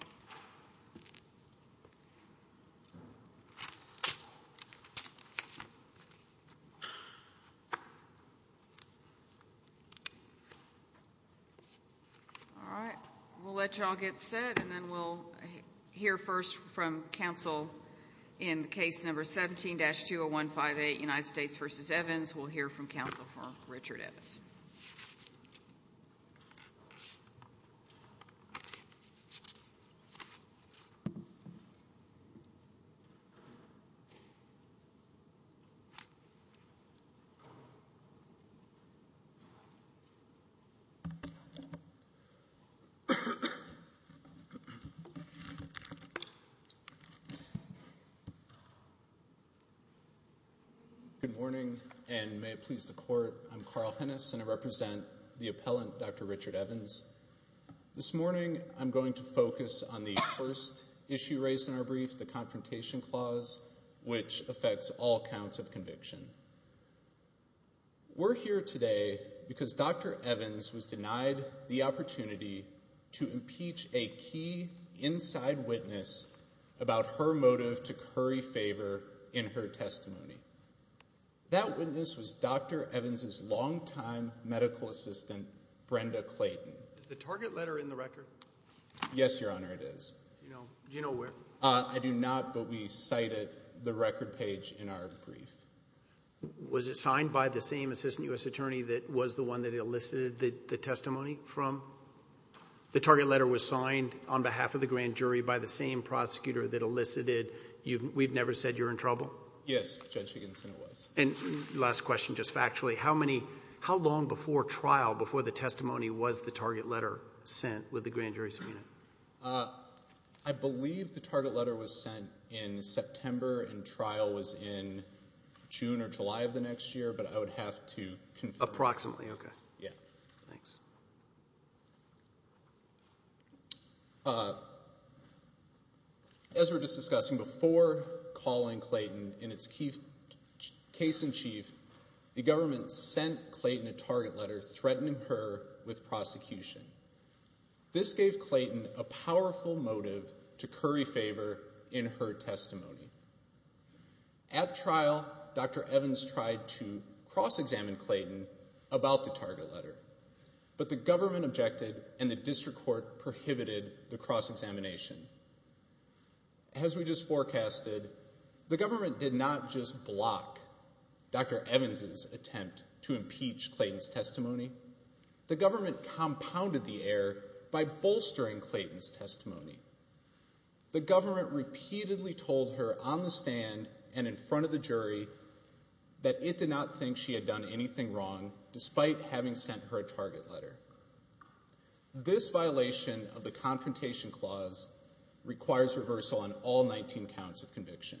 All right, we'll let y'all get set and then we'll hear first from counsel in case number 17-20158, United States v. Evans. Otherwise, we'll hear from counsel for Richard Evans. Good morning, and may it please the Court, I'm Carl Hennis, and I represent the appellant, Dr. Richard Evans. This morning, I'm going to focus on the first issue raised in our brief, the Confrontation Clause, which affects all counts of conviction. We're here today because Dr. Evans was denied the opportunity to impeach a key inside witness about her motive to curry favor in her testimony. That witness was Dr. Evans' longtime medical assistant, Brenda Clayton. Is the target letter in the record? Yes, Your Honor, it is. Do you know where? I do not, but we cited the record page in our brief. Was it signed by the same assistant U.S. attorney that was the one that elicited the testimony from? The target letter was signed on behalf of the grand jury by the same prosecutor that elicited. We've never said you're in trouble? Yes, Judge Higgins, and it was. And last question, just factually, how long before trial, before the testimony, was the target letter sent with the grand jury subpoena? I believe the target letter was sent in September, and trial was in June or July of the next year, but I would have to confirm. Approximately, okay. Yeah. Thanks. As we were just discussing, before calling Clayton in its case in chief, the government sent Clayton a target letter threatening her with prosecution. This gave Clayton a powerful motive to curry favor in her testimony. At trial, Dr. Evans tried to cross-examine Clayton about the target letter. But the government objected, and the district court prohibited the cross-examination. As we just forecasted, the government did not just block Dr. Evans' attempt to impeach Clayton's testimony. The government compounded the error by bolstering Clayton's testimony. The government repeatedly told her on the stand and in front of the jury that it did not think she had done anything wrong, despite having sent her a target letter. This violation of the Confrontation Clause requires reversal on all 19 counts of conviction.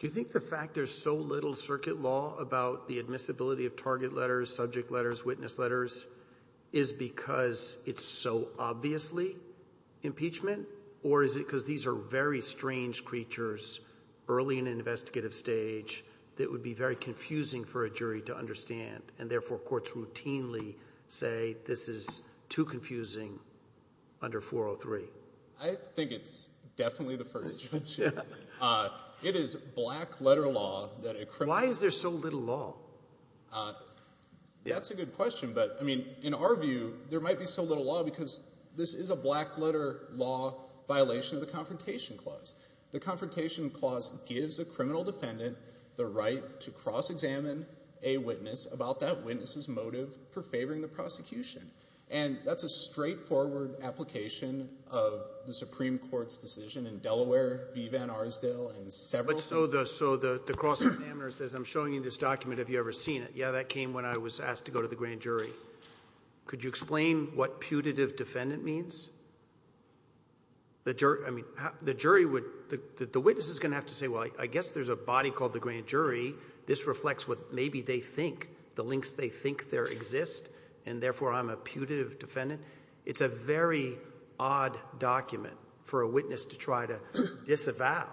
Do you think the fact there's so little circuit law about the admissibility of target letters, subject letters, witness letters, is because it's so obviously impeachment? Or is it because these are very strange creatures early in an investigative stage that would be very confusing for a jury to understand, and therefore courts routinely say this is too confusing under 403? I think it's definitely the first judgment. It is black-letter law that a criminal... Why is there so little law? That's a good question. But, I mean, in our view, there might be so little law because this is a black-letter law violation of the Confrontation Clause. The Confrontation Clause gives a criminal defendant the right to cross-examine a witness about that witness's motive for favoring the prosecution. And that's a straightforward application of the Supreme Court's decision in Delaware v. Van Arsdale and several... So the cross-examiner says, I'm showing you this document, have you ever seen it? Yeah, that came when I was asked to go to the grand jury. Could you explain what putative defendant means? The jury would... The witness is going to have to say, well, I guess there's a body called the grand jury. This reflects what maybe they think, the links they think there exist, and therefore I'm a putative defendant. It's a very odd document for a witness to try to disavow.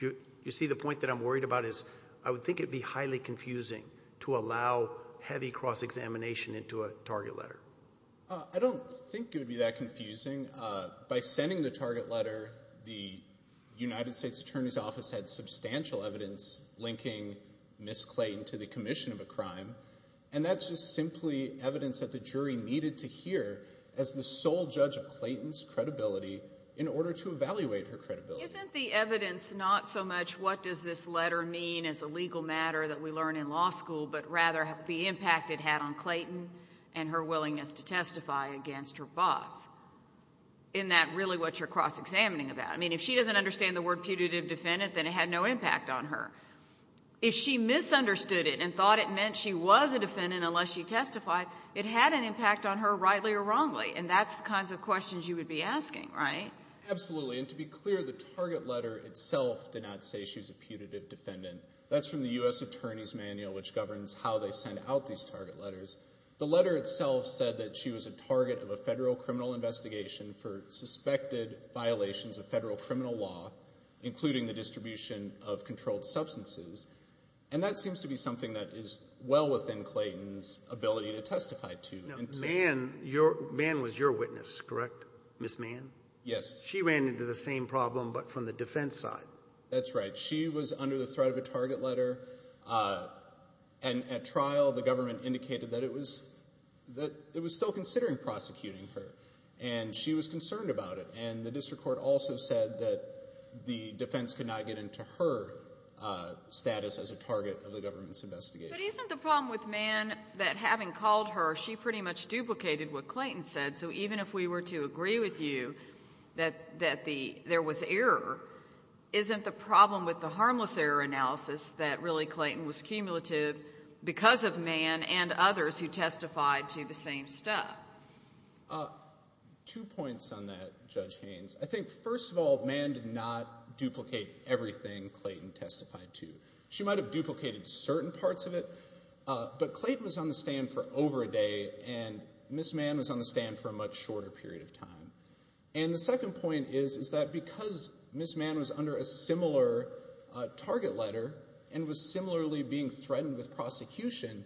You see, the point that I'm worried about is I would think it would be highly confusing to allow heavy cross-examination into a target letter. I don't think it would be that confusing. By sending the target letter, the United States Attorney's Office had substantial evidence linking Ms. Clayton to the commission of a crime, and that's just simply evidence that the jury needed to hear as the sole judge of Clayton's credibility in order to evaluate her credibility. Isn't the evidence not so much what does this letter mean as a legal matter that we learn in law school, but rather the impact it had on Clayton and her willingness to testify against her boss? Isn't that really what you're cross-examining about? I mean, if she doesn't understand the word putative defendant, then it had no impact on her. If she misunderstood it and thought it meant she was a defendant unless she testified, it had an impact on her rightly or wrongly, and that's the kinds of questions you would be asking, right? Absolutely, and to be clear, the target letter itself did not say she was a putative defendant. That's from the U.S. Attorney's Manual, which governs how they send out these target letters. The letter itself said that she was a target of a federal criminal investigation for suspected violations of federal criminal law, including the distribution of controlled substances, and that seems to be something that is well within Clayton's ability to testify to. Mann was your witness, correct, Ms. Mann? Yes. She ran into the same problem, but from the defense side. That's right. She was under the threat of a target letter, and at trial, the government indicated that it was still considering prosecuting her, and she was concerned about it, and the district court also said that the defense could not get into her status as a target of the government's investigation. But isn't the problem with Mann that having called her, she pretty much duplicated what Clayton said, so even if we were to agree with you that there was error, isn't the problem with the harmless error analysis that really Clayton was cumulative because of Mann and others who testified to the same stuff? Two points on that, Judge Haynes. I think, first of all, Mann did not duplicate everything Clayton testified to. She might have duplicated certain parts of it, but Clayton was on the stand for over a day, and Ms. Mann was on the stand for a much shorter period of time. And the second point is, is that because Ms. Mann was under a similar target letter, and was similarly being threatened with prosecution,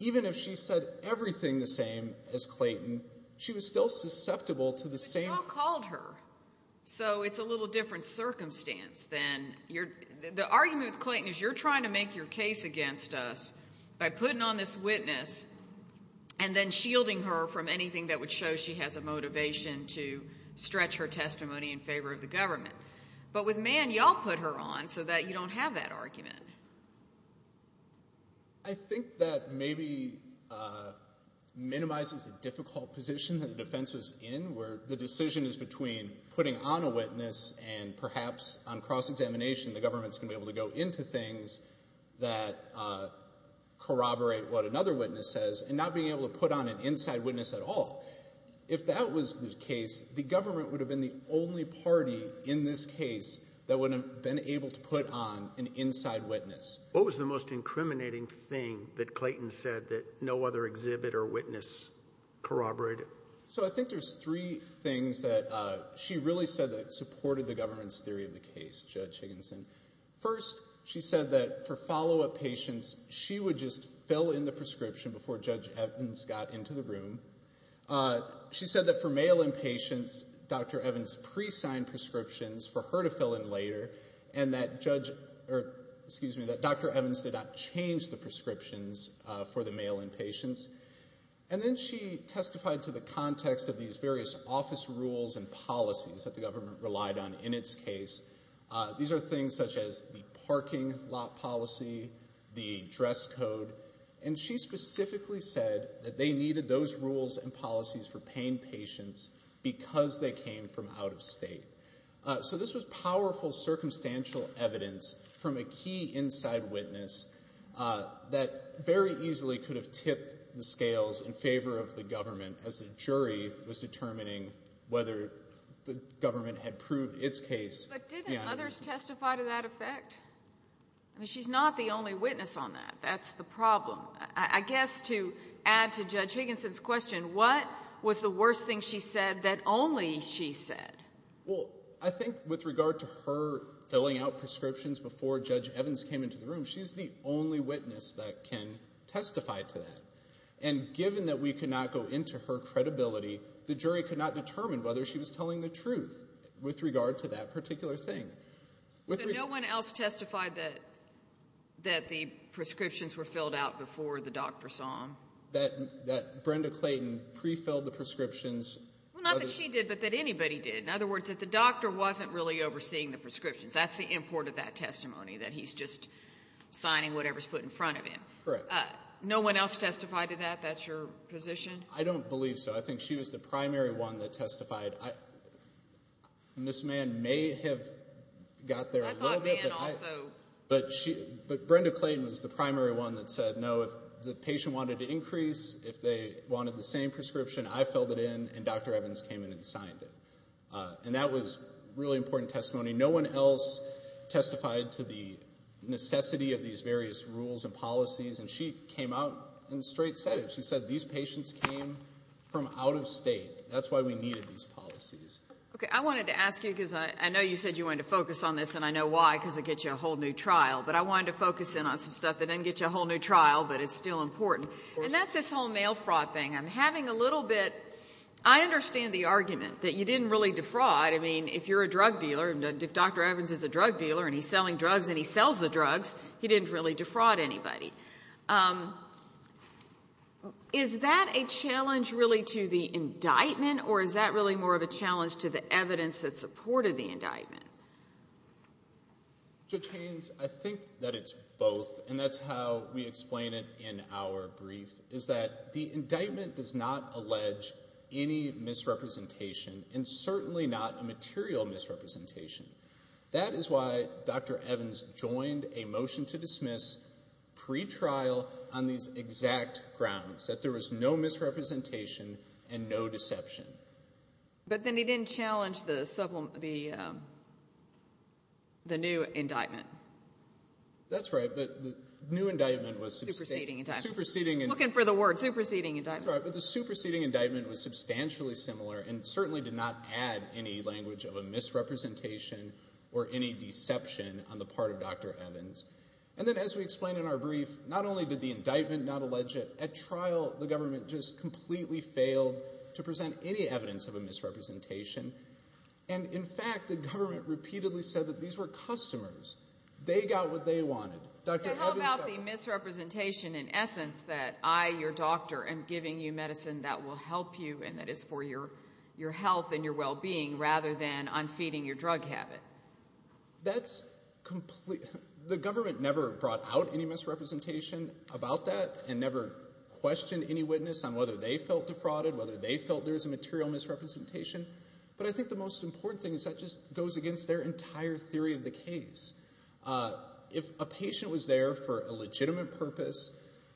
even if she said everything the same as Clayton, she was still susceptible to the same- But y'all called her. So it's a little different circumstance than- the argument with Clayton is you're trying to make your case against us by putting on this witness and then shielding her from anything that would show she has a motivation to stretch her testimony in favor of the government. But with Mann, y'all put her on so that you don't have that argument. I think that maybe minimizes the difficult position that the defense was in, where the decision is between putting on a witness and perhaps on cross-examination the government's going to be able to go into things that corroborate what another witness says, and not being able to put on an inside witness at all. If that was the case, the government would have been the only party in this case that would have been able to put on an inside witness. What was the most incriminating thing that Clayton said that no other exhibit or witness corroborated? So I think there's three things that she really said that supported the government's theory of the case, Judge Higginson. First, she said that for follow-up patients, she would just fill in the prescription before Judge Evans got into the room. She said that for mail-in patients, Dr. Evans pre-signed prescriptions for her to fill in later, and that Dr. Evans did not change the prescriptions for the mail-in patients. And then she testified to the context of these various office rules and policies that the government relied on in its case. These are things such as the parking lot policy, the dress code. And she specifically said that they needed those rules and policies for pain patients because they came from out of state. So this was powerful circumstantial evidence from a key inside witness that very easily could have tipped the scales in favor of the government as the jury was determining whether the government had proved its case. But didn't others testify to that effect? I mean, she's not the only witness on that. That's the problem. I guess to add to Judge Higginson's question, what was the worst thing she said that only she said? Well, I think with regard to her filling out prescriptions before Judge Evans came into the room, she's the only witness that can testify to that. And given that we could not go into her credibility, the jury could not determine whether she was telling the truth with regard to that particular thing. So no one else testified that the prescriptions were filled out before the doctor saw them? That Brenda Clayton pre-filled the prescriptions. Well, not that she did, but that anybody did. In other words, that the doctor wasn't really overseeing the prescriptions. That's the import of that testimony, that he's just signing whatever's put in front of him. Correct. No one else testified to that? That's your position? I don't believe so. I think she was the primary one that testified. And this man may have got there a little bit, but Brenda Clayton was the primary one that said no, if the patient wanted to increase, if they wanted the same prescription, I filled it in, and Dr. Evans came in and signed it. And that was really important testimony. No one else testified to the necessity of these various rules and policies, and she came out and straight said it. She said these patients came from out of state. That's why we needed these policies. Okay, I wanted to ask you, because I know you said you wanted to focus on this, and I know why, because it gets you a whole new trial. But I wanted to focus in on some stuff that doesn't get you a whole new trial, but is still important. And that's this whole mail fraud thing. I'm having a little bit, I understand the argument that you didn't really defraud. I mean, if you're a drug dealer, and if Dr. Evans is a drug dealer, and he's selling drugs and he sells the drugs, he didn't really defraud anybody. Um, is that a challenge really to the indictment, or is that really more of a challenge to the evidence that supported the indictment? Judge Haynes, I think that it's both, and that's how we explain it in our brief, is that the indictment does not allege any misrepresentation, and certainly not a material misrepresentation. That is why Dr. Evans joined a motion to dismiss pre-trial on these exact grounds, that there was no misrepresentation and no deception. But then he didn't challenge the new indictment. That's right. The new indictment was superseding. The superseding indictment. I'm looking for the word, superseding indictment. That's right. But the superseding indictment was substantially similar, and certainly did not add any language of a misrepresentation or any deception on the part of Dr. Evans. And then as we explained in our brief, not only did the indictment not allege it, at trial the government just completely failed to present any evidence of a misrepresentation. And in fact, the government repeatedly said that these were customers. They got what they wanted. Dr. Evans got what they wanted. So how about the misrepresentation in essence, that I, your doctor, am giving you medicine that will help you and that is for your health and your well-being, rather than on feeding your drug habit? That's completely, the government never brought out any misrepresentation about that and never questioned any witness on whether they felt defrauded, whether they felt there was a material misrepresentation. But I think the most important thing is that just goes against their entire theory of the case. If a patient was there for a legitimate purpose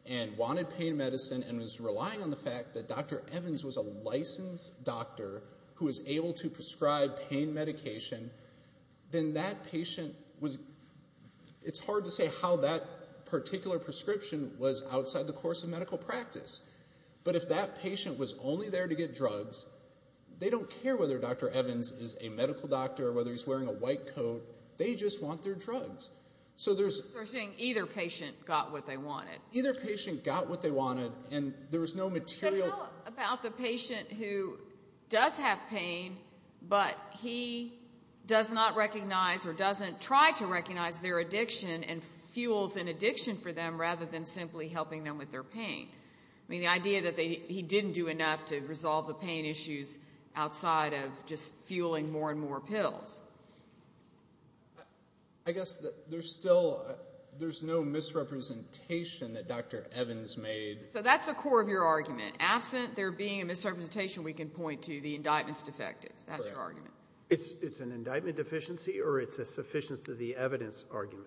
and wanted pain medicine and was relying on the fact that Dr. Evans was a licensed doctor who was able to prescribe pain medication, then that patient was, it's hard to say how that particular prescription was outside the course of medical practice. But if that patient was only there to get drugs, they don't care whether Dr. Evans is a medical doctor or whether he's wearing a white coat, they just want their drugs. So there's... So you're saying either patient got what they wanted. Either patient got what they wanted and there was no material... How about the patient who does have pain, but he does not recognize or doesn't try to recognize their addiction and fuels an addiction for them, rather than simply helping them with their pain? I mean, the idea that he didn't do enough to resolve the pain issues outside of just fueling more and more pills. I guess there's still, there's no misrepresentation that Dr. Evans made... So that's the core of your argument. Absent there being a misrepresentation, we can point to the indictment's defective. That's your argument. It's an indictment deficiency or it's a sufficiency of the evidence argument?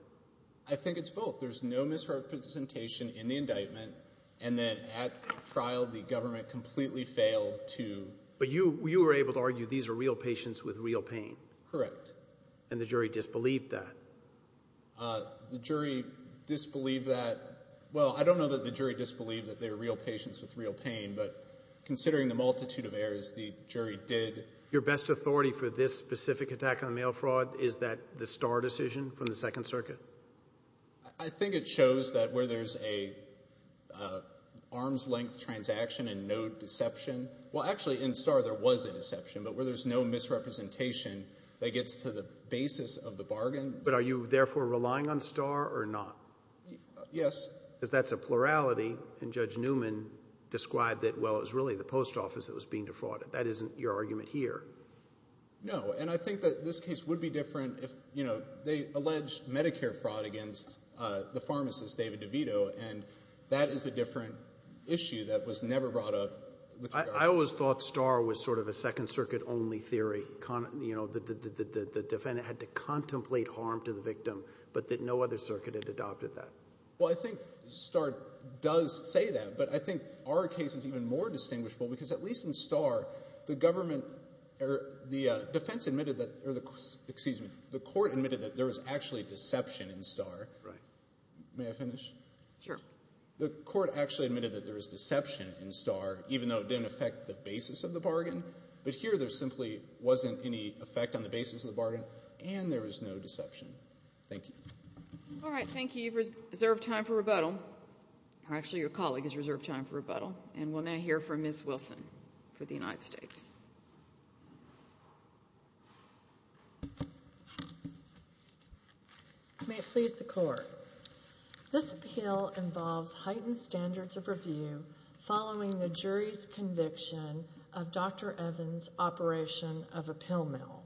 I think it's both. There's no misrepresentation in the indictment. And then at trial, the government completely failed to... But you were able to argue these are real patients with real pain. Correct. And the jury disbelieved that? The jury disbelieved that. Well, I don't know that the jury disbelieved that they were real patients with real pain, but considering the multitude of errors, the jury did. Your best authority for this specific attack on mail fraud, is that the Starr decision from the Second Circuit? I think it shows that where there's an arm's length transaction and no deception... Well, actually in Starr there was a deception, but where there's no misrepresentation that gets to the basis of the bargain... But are you therefore relying on Starr or not? Yes. Because that's a plurality and Judge Newman described that, well, it was really the post office that was being defrauded. That isn't your argument here. No, and I think that this case would be different if, you know, they allege Medicare fraud against the pharmacist, David DeVito, and that is a different issue that was never brought up with the government. I always thought Starr was sort of a Second Circuit only theory, you know, that the defendant had to contemplate harm to the victim, but that no other circuit had adopted that. Well, I think Starr does say that, but I think our case is even more distinguishable because at least in Starr, the government, the defense admitted that, excuse me, the court admitted that there was actually deception in Starr. May I finish? Sure. The court actually admitted that there was deception in Starr, even though it didn't affect the basis of the bargain, but here there simply wasn't any effect on the basis of the bargain and there was no deception. Thank you. All right. Thank you. You've reserved time for rebuttal. Actually, your colleague has reserved time for rebuttal, and we'll now hear from Ms. Wilson for the United States. May it please the Court. This appeal involves heightened standards of review following the jury's conviction of Dr. Evans' operation of a pill mill.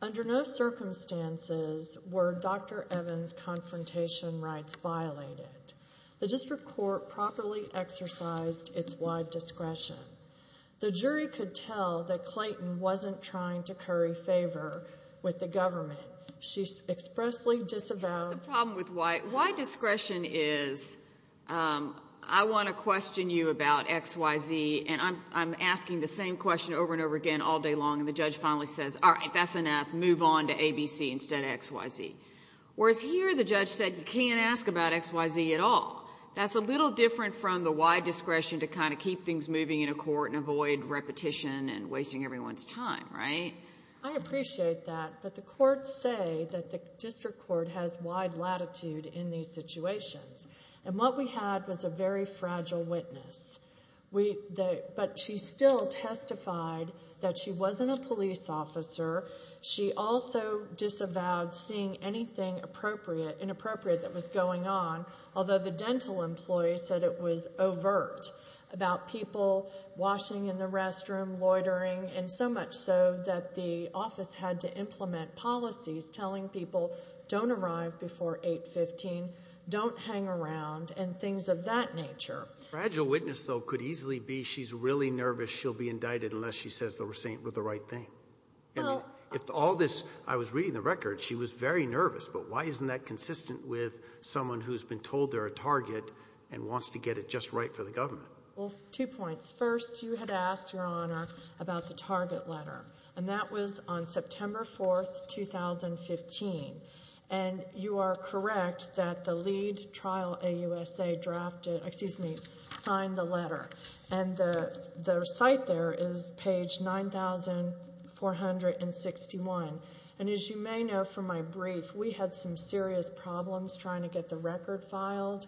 Under no circumstances were Dr. Evans' confrontation rights violated. The district court properly exercised its wide discretion. The jury could tell that Clayton wasn't trying to curry favor with the government. She expressly disavowed... The problem with wide discretion is I want to question you about X, Y, Z, and I'm asking the same question over and over again all day long, and the judge finally says, all right, that's enough. Move on to A, B, C instead of X, Y, Z. Whereas here the judge said you can't ask about X, Y, Z at all. That's a little different from the wide discretion to kind of keep things moving in a court and avoid repetition and wasting everyone's time, right? I appreciate that, but the courts say that the district court has wide latitude in these situations, and what we had was a very fragile witness. But she still testified that she wasn't a police officer. She also disavowed seeing anything inappropriate that was going on, although the dental employee said it was overt about people washing in the restroom, loitering, and so much so that the office had to implement policies telling people don't arrive before 8.15, don't hang around, and things of that nature. Fragile witness, though, could easily be she's really nervous she'll be indicted unless she says the receipt was the right thing. If all this, I was reading the record, she was very nervous, but why isn't that consistent with someone who's been told they're a target and wants to get it just right for the government? Well, two points. First, you had asked, Your Honor, about the target letter. And that was on September 4, 2015. And you are correct that the lead trial AUSA drafted, excuse me, signed the letter. And the site there is page 9,461. And as you may know from my brief, we had some serious problems trying to get the record filed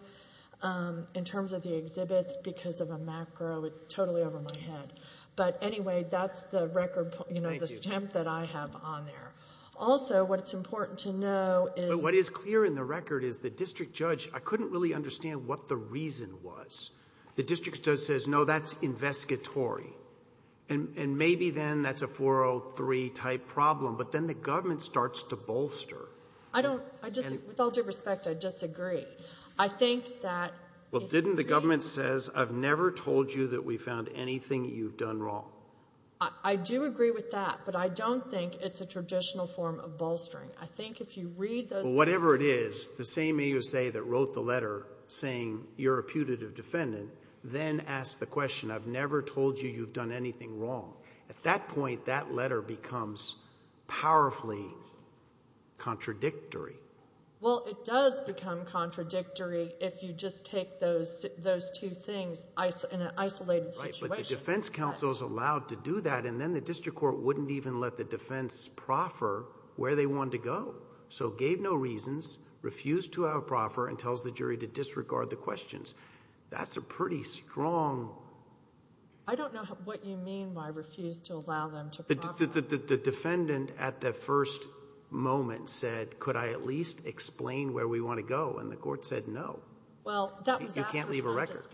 in terms of the exhibits because of a macro totally over my head. But anyway, that's the record, you know, the stamp that I have on there. Also, what's important to know is But what is clear in the record is the district judge, I couldn't really understand what the reason was. The district judge says, no, that's investigatory. And maybe then that's a 403-type problem. But then the government starts to bolster. I don't, with all due respect, I disagree. I think that Well, didn't the government says, I've never told you that we found anything you've done wrong. I do agree with that. But I don't think it's a traditional form of bolstering. I think if you read those Whatever it is, the same AUSA that wrote the letter saying you're a putative defendant, then asked the question, I've never told you you've done anything wrong. At that point, that letter becomes powerfully contradictory. Well, it does become contradictory if you just take those two things in an isolated situation. But the defense counsel is allowed to do that and then the district court wouldn't even let the defense proffer where they wanted to go. So gave no reasons, refused to have a proffer, and tells the jury to disregard the questions. That's a pretty strong I don't know what you mean by refused to allow them to proffer. The defendant at the first moment said, could I at least explain where we want to go? And the court said, no. You can't leave a record.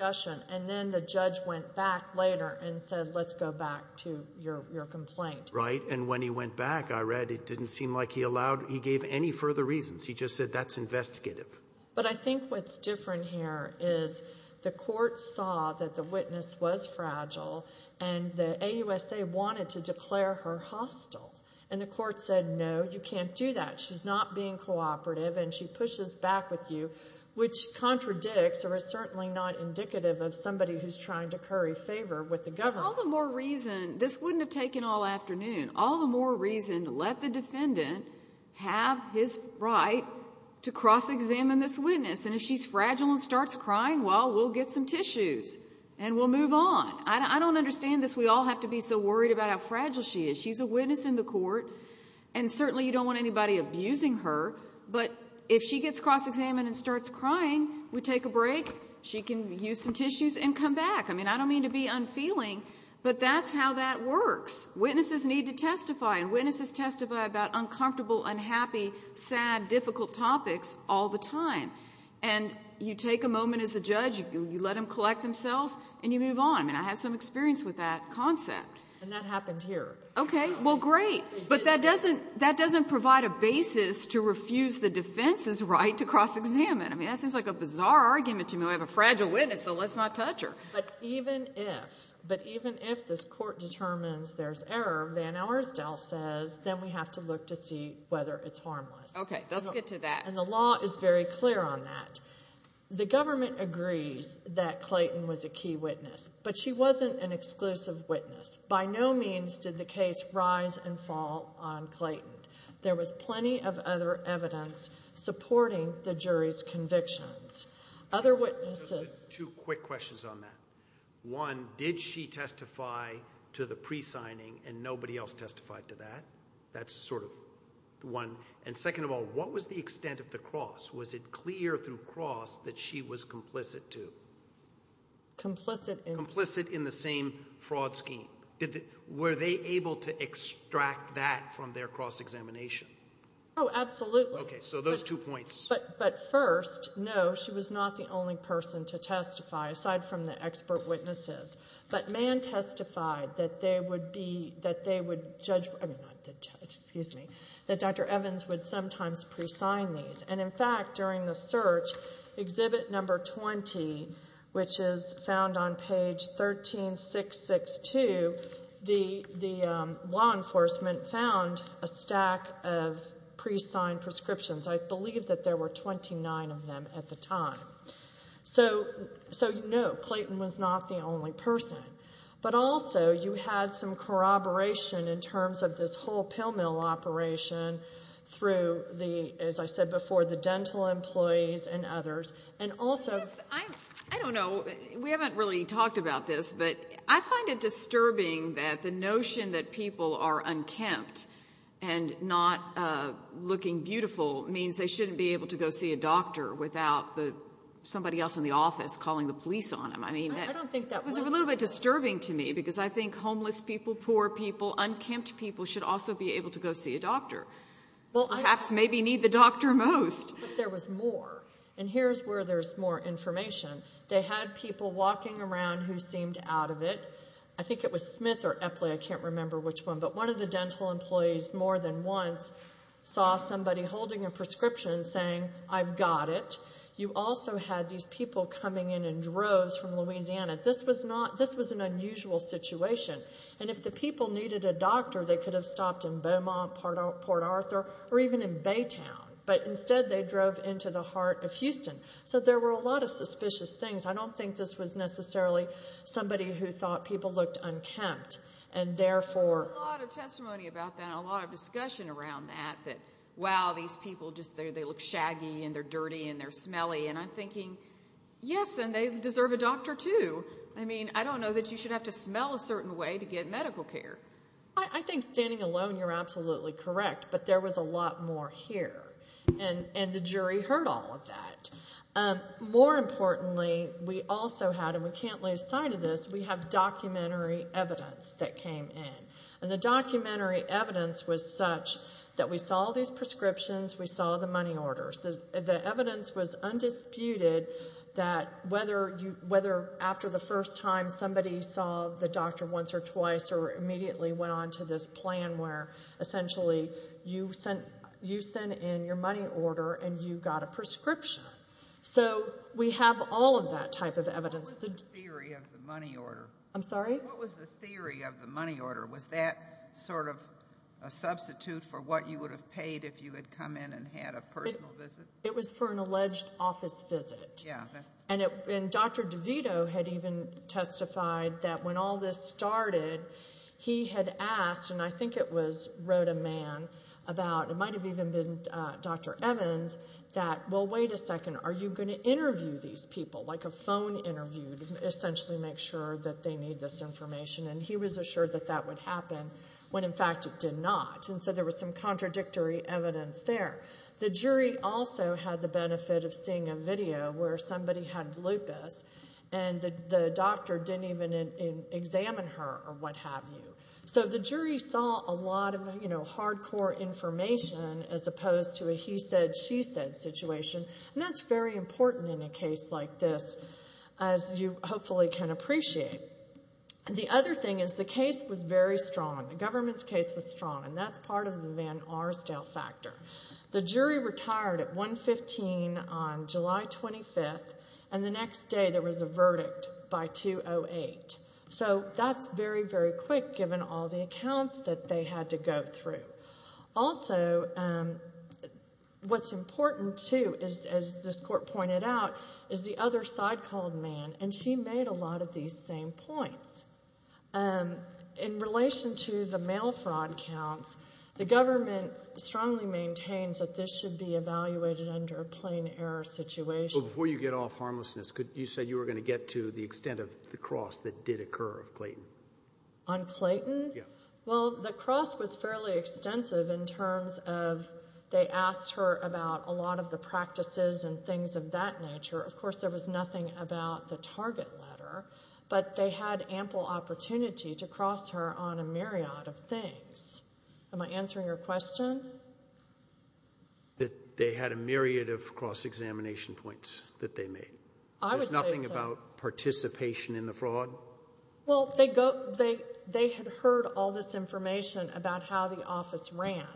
And then the judge went back later and said, let's go back to your complaint. Right, and when he went back, I read, it didn't seem like he allowed, he gave any further reasons. He just said, that's investigative. But I think what's different here is the court saw that the witness was fragile and the AUSA wanted to declare her hostile. And the court said, no, you can't do that. She's not being cooperative and she pushes back with you, which contradicts or is certainly not indicative of somebody who's trying to curry favor with the government. All the more reason, this wouldn't have taken all afternoon. All the more reason to let the defendant have his right to cross-examine this witness. And if she's fragile and starts crying, well, we'll get some tissues and we'll move on. I don't understand this, we all have to be so worried about how fragile she is. She's a witness in the court and certainly you don't want anybody abusing her, but if she gets cross-examined and starts crying, we take a break, she can use some tissues and come back. I mean, I don't mean to be unfeeling, but that's how that works. Witnesses need to testify and witnesses testify about uncomfortable, unhappy, sad, difficult topics all the time. And you take a moment as a judge, you let them collect themselves and you move on. I mean, I have some experience with that concept. And that happened here. Okay, well, great. But that doesn't provide a basis to refuse the defense's right to cross-examine. I mean, that seems like a bizarre argument to me. I have a fragile witness, so let's not touch her. But even if, but even if this court determines there's error, Van Oursdale says, then we have to look to see whether it's harmless. Okay, let's get to that. And the law is very clear on that. The government agrees that Clayton was a key witness, but she wasn't an exclusive witness. By no means did the case rise and fall on Clayton. There was plenty of other evidence supporting the jury's convictions. Other witnesses... Two quick questions on that. One, did she testify to the presigning and nobody else testified to that? That's sort of one. And second of all, what was the extent of the cross? Was it clear through cross that she was complicit to? Complicit in? Complicit in the same fraud scheme. Were they able to extract that from their cross-examination? Oh, absolutely. Okay, so those two points. But first, no, she was not the only person to testify, aside from the expert witnesses. But Mann testified that they would be, that they would judge, I mean, not judge, excuse me, that Dr. Evans would sometimes presign these. And in fact, during the search, exhibit number 20, which is found on page 13662, the law enforcement found a stack of presigned prescriptions. I believe that there were 29 of them at the time. So, no, Clayton was not the only person. But also, you had some corroboration in terms of this whole pill mill operation through the, as I said before, the dental employees and others, and also... Yes, I don't know, we haven't really talked about this, but I find it disturbing that the notion that people are unkempt and not looking beautiful means they shouldn't be able to go see a doctor without somebody else in the office calling the police on them. I mean, that was a little bit disturbing to me, because I think homeless people, poor people, unkempt people should also be able to go see a doctor. Perhaps maybe need the doctor most. But there was more, and here's where there's more information. They had people walking around who seemed out of it. I think it was Smith or Epley, I can't remember which one, but one of the dental employees more than once saw somebody holding a prescription saying, I've got it. You also had these people coming in in droves from Louisiana. This was an unusual situation. And if the people needed a doctor, they could have stopped in Beaumont, Port Arthur, or even in Baytown. But instead, they drove into the heart of Houston. So there were a lot of suspicious things. I don't think this was necessarily somebody who thought people looked unkempt. There was a lot of testimony about that, a lot of discussion around that, that, wow, these people look shaggy, and they're dirty, and they're smelly. And I'm thinking, yes, and they deserve a doctor too. I mean, I don't know that you should have to smell a certain way to get medical care. I think standing alone, you're absolutely correct, but there was a lot more here, and the jury heard all of that. More importantly, we also had, and we can't lose sight of this, we have documentary evidence that came in. And the documentary evidence was such that we saw these prescriptions, we saw the money orders. The evidence was undisputed that whether after the first time somebody saw the doctor once or twice or immediately went on to this plan where essentially you sent in your money order and you got a prescription. So we have all of that type of evidence. What was the theory of the money order? I'm sorry? What was the theory of the money order? Was that sort of a substitute for what you would have paid if you had come in and had a personal visit? It was for an alleged office visit. And Dr. DeVito had even testified that when all this started, he had asked, and I think it was wrote a man about, it might have even been Dr. Evans, that, well, wait a second, are you going to interview these people? Like a phone interview to essentially make sure that they need this information. And he was assured that that would happen when in fact it did not. And so there was some contradictory evidence there. The jury also had the benefit of seeing a video where somebody had lupus and the doctor didn't even examine her or what have you. So the jury saw a lot of hardcore information as opposed to a he said, she said situation. And that's very important in a case like this as you hopefully can appreciate. The other thing is the case was very strong. The government's case was strong. And that's part of the Van Arsdale factor. The jury retired at 115 on July 25th. And the next day there was a verdict by 208. So that's very, very quick given all the accounts that they had to go through. Also, what's important too, as this court pointed out, is the other side called man. And she made a lot of these same points. In relation to the mail fraud counts, the government strongly maintains that this should be evaluated under a plain error situation. But before you get off harmlessness, you said you were going to get to the extent of the cross that did occur of Clayton. On Clayton? Well, the cross was fairly extensive in terms of they asked her about a lot of the practices and things of that nature. Of course, there was nothing about the target letter. But they had ample opportunity to cross her on a myriad of things. Am I answering your question? That they had a myriad of cross-examination points that they made? I would say so. There's nothing about participation in the fraud? Well, they had heard all this information about how the office ran.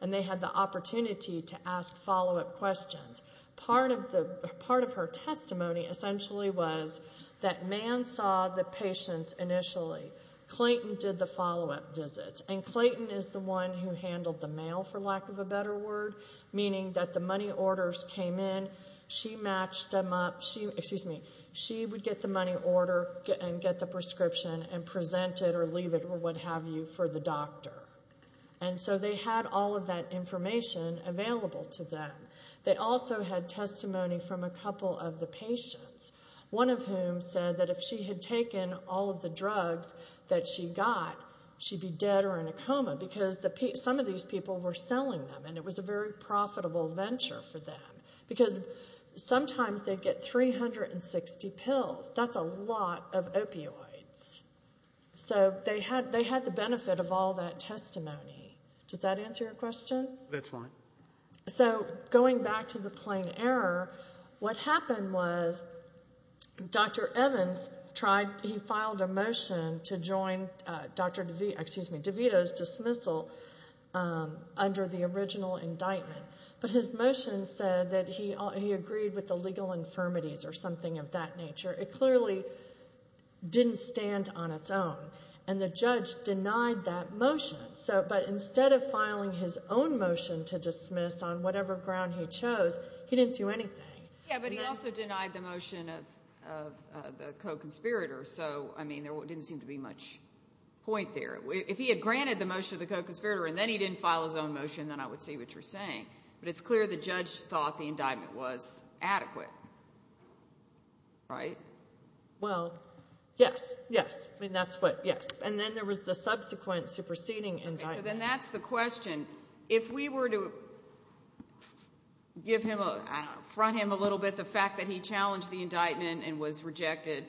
And they had the opportunity to ask follow-up questions. Part of her testimony, essentially, was that Mann saw the patients initially. Clayton did the follow-up visits. And Clayton is the one who handled the mail, for lack of a better word, meaning that the money orders came in, she would get the money order and get the prescription and present it or leave it or what have you for the doctor. And so they had all of that information available to them. They also had testimony from a couple of the patients, one of whom said that if she had taken all of the drugs that she got, she'd be dead or in a coma because some of these people were selling them and it was a very profitable venture for them. Because sometimes they'd get 360 pills. That's a lot of opioids. So they had the benefit of all that testimony. Does that answer your question? That's fine. So going back to the plain error, what happened was Dr. Evans filed a motion to join DeVito's dismissal under the original indictment. But his motion said that he agreed with the legal infirmities or something of that nature. It clearly didn't stand on its own. And the judge denied that motion. But instead of filing his own motion to dismiss on whatever ground he chose, he didn't do anything. Yeah, but he also denied the motion of the co-conspirator. So, I mean, there didn't seem to be much point there. If he had granted the motion of the co-conspirator and then he didn't file his own motion, then I would see what you're saying. But it's clear the judge thought the indictment was adequate. Right? Well, yes. And then there was the subsequent superseding indictment. So then that's the question. If we were to front him a little bit the fact that he challenged the indictment and was rejected,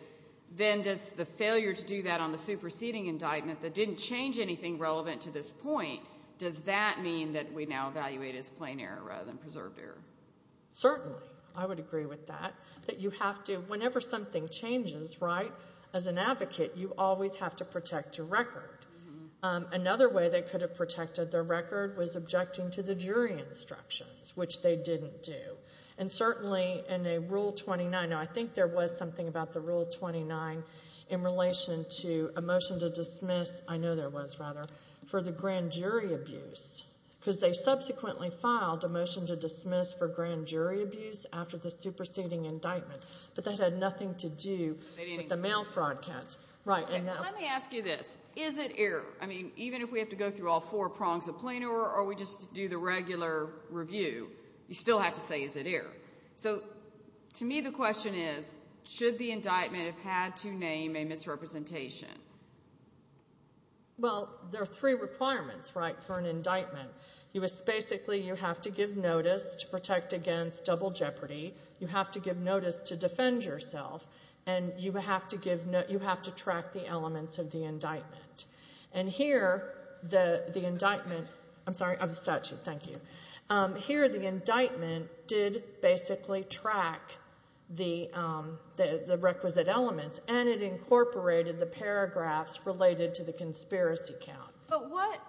then does the failure to do that on the superseding indictment that didn't change anything relevant to this point, does that mean that we now evaluate as plain error rather than preserved error? Certainly, I would agree with that. Whenever something changes, as an advocate, you always have to protect your record. Another way they could have protected their record was objecting to the jury instructions, which they didn't do. And certainly in Rule 29, I think there was something about the Rule 29 in relation to a motion to dismiss, I know there was, rather, for the grand jury abuse. Because they subsequently filed a motion to dismiss for grand jury abuse after the superseding indictment. But that had nothing to do with the mail fraud counts. Let me ask you this. Is it error? I mean, even if we have to go through all four prongs of plain error or we just do the regular review, you still have to say, is it error? So, to me, the question is, should the indictment have had to name a misrepresentation? Well, there are three requirements for an indictment. Basically, you have to give notice to protect against double jeopardy, you have to give notice to defend yourself, and you have to track the elements of the indictment. And here, the indictment... I'm sorry, of the statute, thank you. Here, the indictment did basically track the requisite elements and it incorporated the paragraphs related to the conspiracy count. But what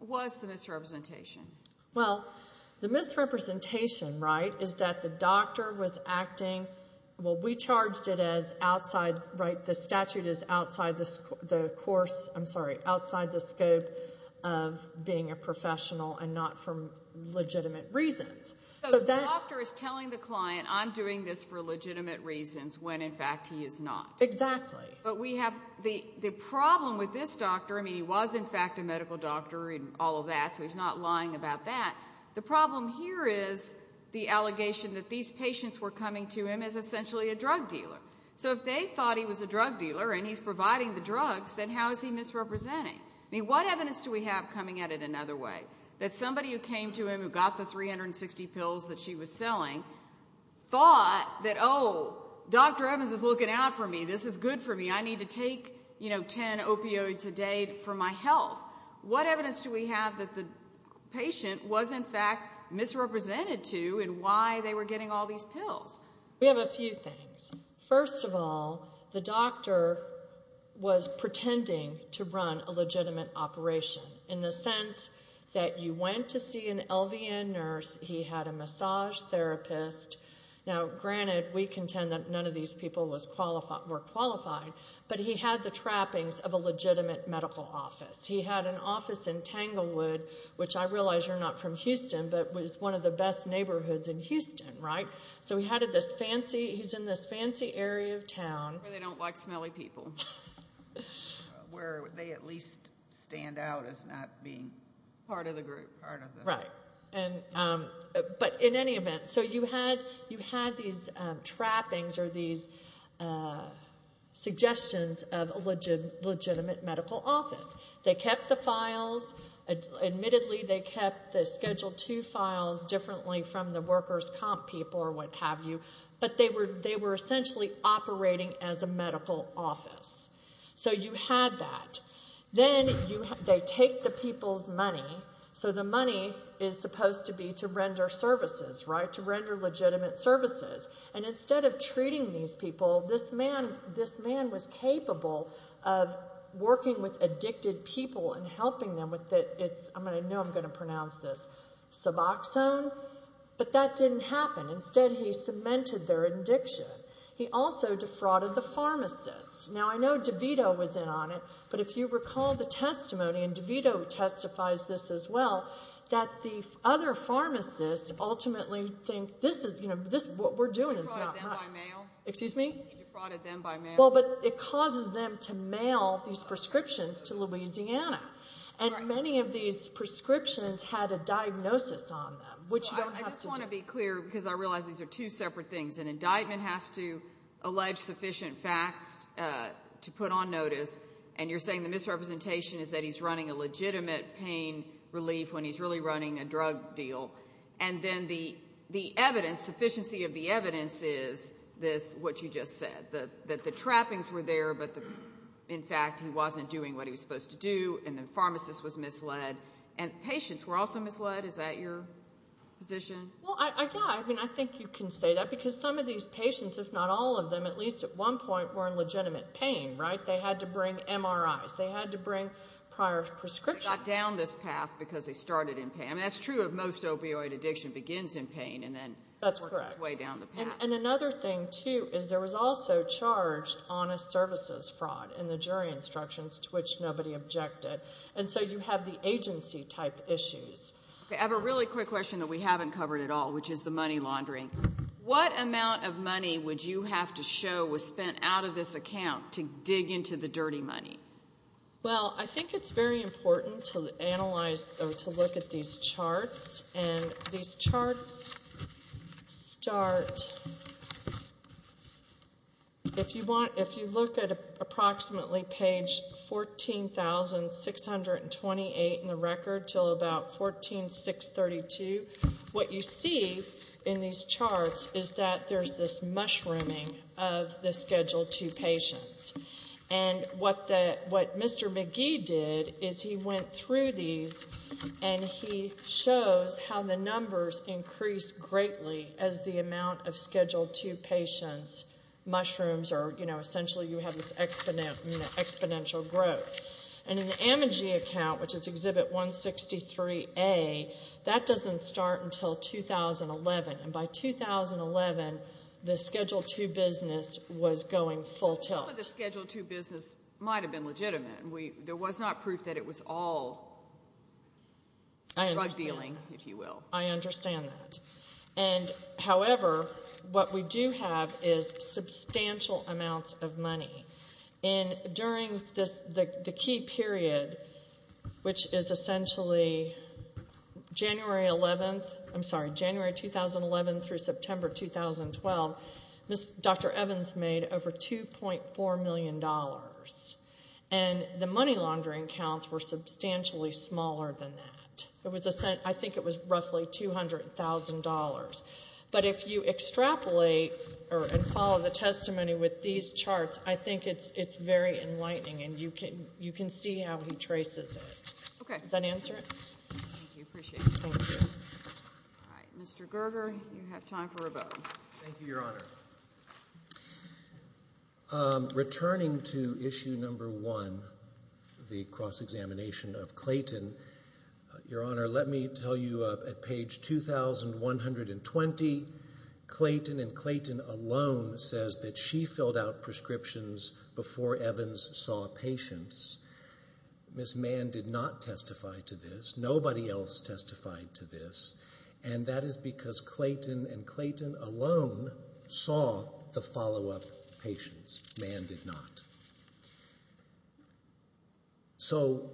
was the misrepresentation? Well, the misrepresentation, right, is that the doctor was acting... Well, we charged it as outside... The statute is outside the scope of being a professional and not for legitimate reasons. So the doctor is telling the client, I'm doing this for legitimate reasons when, in fact, he is not. Exactly. But the problem with this doctor... I mean, he was, in fact, a medical doctor and all of that, so he's not lying about that. The problem here is the allegation that these patients were coming to him as essentially a drug dealer. So if they thought he was a drug dealer and he's providing the drugs, then how is he misrepresenting? I mean, what evidence do we have coming at it another way? That somebody who came to him who got the 360 pills that she was selling thought that, oh, Dr. Evans is looking out for me, this is good for me, I need to take, you know, 10 opioids a day for my health. What evidence do we have that the patient was, in fact, misrepresented to in why they were getting all these pills? We have a few things. First of all, the doctor was pretending to run a legitimate operation in the sense that you went to see an LVN nurse, he had a massage therapist. Now, granted, we contend that none of these people were qualified, but he had the trappings of a legitimate medical office. He had an office in Tanglewood, which I realize you're not from Houston, but it was one of the best neighborhoods in Houston, right? So he's in this fancy area of town... Where they don't like smelly people. Where they at least stand out as not being part of the group. Right. But in any event, so you had these trappings or these suggestions of a legitimate medical office. They kept the files. Admittedly, they scheduled two files differently from the workers' comp people or what have you, but they were essentially operating as a medical office. So you had that. Then they take the people's money. So the money is supposed to be to render services, right? To render legitimate services. And instead of treating these people, this man was capable of working with addicted people and helping them with it. I know I'm going to pronounce this... Suboxone? But that didn't happen. Instead, he cemented their addiction. He also defrauded the pharmacists. Now, I know DeVito was in on it, but if you recall the testimony, and DeVito testifies this as well, that the other pharmacists ultimately think, what we're doing is not... He defrauded them by mail. Well, but it causes them to mail these prescriptions to Louisiana. And many of these prescriptions had a diagnosis on them. I just want to be clear, because I realize these are two separate things. An indictment has to allege sufficient facts to put on notice, and you're saying the misrepresentation is that he's running a legitimate pain relief when he's really running a drug deal. And then the evidence, sufficiency of the evidence, is what you just said. That the trappings were there, but in fact he wasn't doing what he was supposed to do, and the pharmacist was misled, and patients were also misled? Is that your position? Well, yeah, I mean, I think you can say that, because some of these patients, if not all of them, at least at one point, were in legitimate pain, right? They had to bring MRIs, they had to bring prior prescriptions. They got down this path because they started in pain. I mean, that's true if most opioid addiction begins in pain, and then works its way down the path. That's correct. And another thing, too, is there was also charged honest services fraud in the jury instructions, to which nobody objected. And so you have the agency type issues. I have a really quick question that we haven't covered at all, which is the money laundering. What amount of money would you have to show was spent out of this account to dig into the dirty money? Well, I think it's very important to analyze, or to look at these charts. And these charts start... If you look at approximately page 14,628 in the record till about 14,632, what you see in these charts is that there's this mushrooming of the Schedule 2 patients. And what Mr. McGee did is he went through these and he shows how the numbers increase greatly as the amount of Schedule 2 patients mushrooms, or, you know, essentially you have this exponential growth. And in the Amogee account, which is Exhibit 163A, that doesn't start until 2011. And by 2011, the Schedule 2 business was going full tilt. Some of the Schedule 2 business might have been legitimate. There was not proof that it was all drug dealing, if you will. I understand that. And, however, what we do have is substantial amounts of money. And during the key period, which is essentially January 11th, I'm sorry, January 2011 through September 2012, Dr. Evans made over $2.4 million. And the money laundering counts were substantially smaller than that. I think it was roughly $200,000. But if you extrapolate and follow the testimony with these charts, I think it's very enlightening. And you can see how he traces it. Does that answer it? Mr. Gerger, you have time for a vote. Thank you, Your Honor. Returning to Issue No. 1, the cross-examination of Clayton, Your Honor, let me tell you at page 2,120, Clayton and Clayton alone says that she filled out prescriptions before Evans saw patients. Ms. Mann did not testify to this. Nobody else testified to this. And that is because Clayton and Clayton alone saw the follow-up patients. Mann did not. So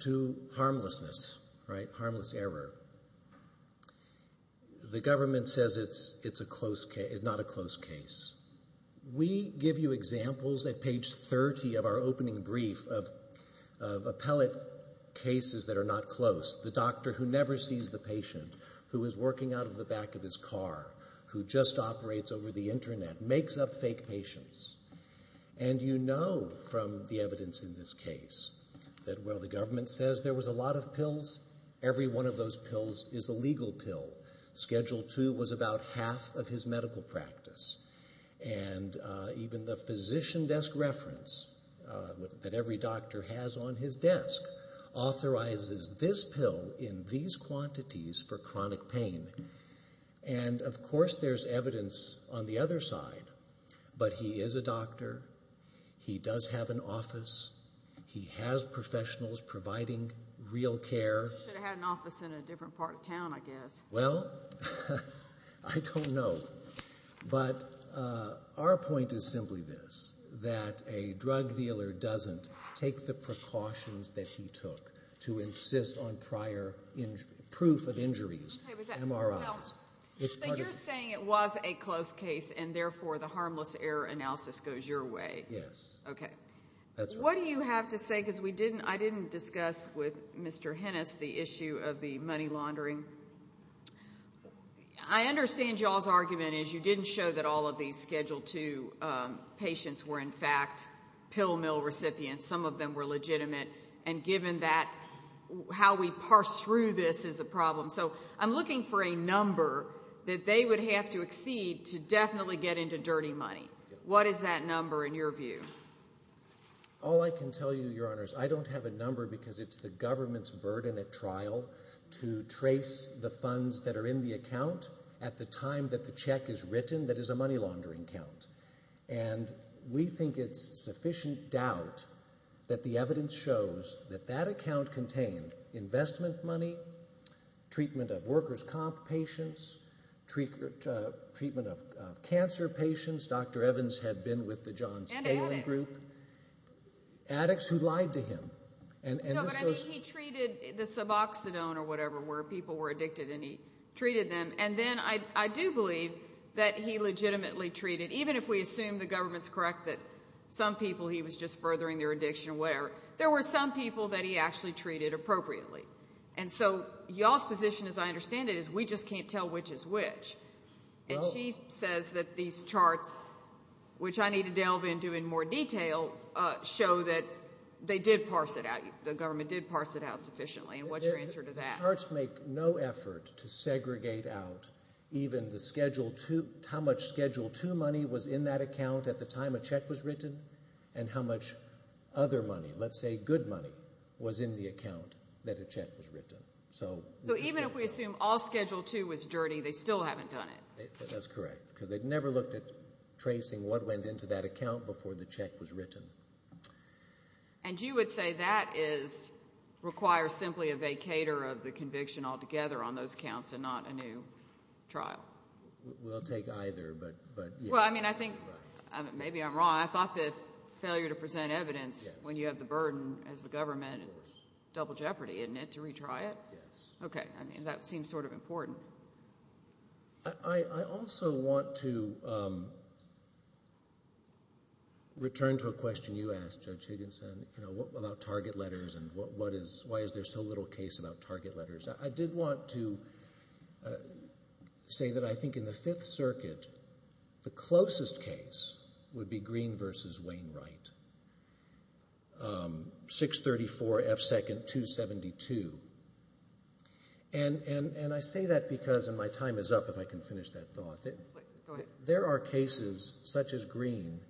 to harmlessness, right, harmless error, the government says it's not a close case. We give you examples at page 30 of our opening brief of appellate cases that are not close. The doctor who never sees the patient, who is working out of the back of his car, who just operates over the Internet, makes up fake patients. And you know from the evidence in this case that while the government says there was a lot of pills, every one of those pills is a legal pill. Schedule 2 was about half of his medical practice. And even the physician desk reference that every doctor has on his desk authorizes this pill in these quantities for chronic pain. And of course there's evidence on the other side. But he is a doctor. He does have an office. He has professionals providing real care. He should have had an office in a different part of town, I guess. Well, I don't know. But our point is simply this, that a drug dealer doesn't take the precautions that he took to insist on prior proof of injuries, MRIs. So you're saying it was a close case and therefore the harmless error analysis goes your way? Yes. What do you have to say? Because I didn't discuss with Mr. Hennis the issue of the money laundering. I understand y'all's argument is you didn't show that all of these Schedule 2 patients were in fact pill mill recipients. Some of them were legitimate. And given that, how we parse through this is a problem. So I'm looking for a number that they would have to exceed to definitely get into dirty money. What is that number in your view? All I can tell you, Your Honors, I don't have a number because it's the government's burden at trial to trace the funds that are in the account at the time that the check is written that is a money laundering account. And we think it's sufficient doubt that the evidence shows that that account contained investment money, treatment of workers' comp patients, treatment of cancer patients. And addicts. Addicts who lied to him. No, but I mean he treated the suboxidone or whatever where people were addicted and he treated them. And then I do believe that he legitimately treated, even if we assume the government's correct that some people he was just furthering their addiction or whatever, there were some people that he actually treated appropriately. And so y'all's position, as I understand it, is we just can't tell which is which. And she says that these charts, which I need to delve into in more detail, show that they did parse it out. The government did parse it out sufficiently. And what's your answer to that? The charts make no effort to segregate out even how much Schedule II money was in that account at the time a check was written and how much other money, let's say good money, was in the account that a check was written. So even if we assume all Schedule II was dirty, they still haven't done it. That's correct, because they've never looked at tracing what went into that account before the check was written. And you would say that requires simply a vacator of the conviction altogether on those counts and not a new trial? We'll take either, but yes. Well, I mean, I think maybe I'm wrong. I thought the failure to present evidence when you have the burden as the government and it's double jeopardy, isn't it, to retry it? Yes. Okay, I mean, that seems sort of important. I also want to return to a question you asked, Judge Higginson, you know, about target letters and why is there so little case about target letters? I did want to say that I think in the Fifth Circuit the closest case would be Green v. Wainwright. 634 F. 2nd, 272. And I say that because, and my time is up, if I can finish that thought. Go ahead. There are cases such as Green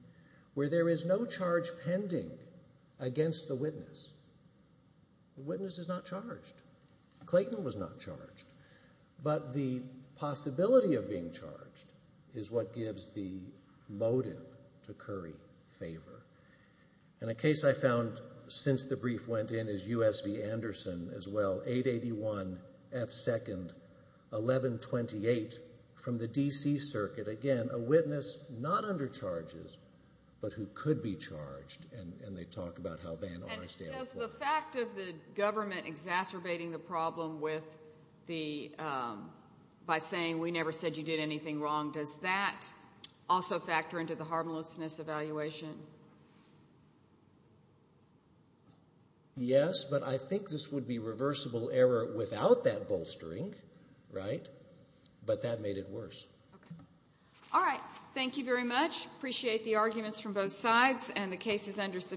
where there is no charge pending against the witness. The witness is not charged. Clayton was not charged. But the possibility of being charged is what gives the motive to Curry favor. And a case I found since the brief went in is U.S. v. Anderson as well. 881 F. 2nd, 1128 from the D.C. Circuit. Again, a witness not under charges but who could be charged, and they talk about how Van Orn stands for it. And does the fact of the government exacerbating the problem with the, by saying we never said you did anything wrong, does that also factor into the harmlessness evaluation? Yes, but I think this would be reversible error without that bolstering, right? But that made it worse. All right, thank you very much. Appreciate the arguments from both sides and the cases under submission.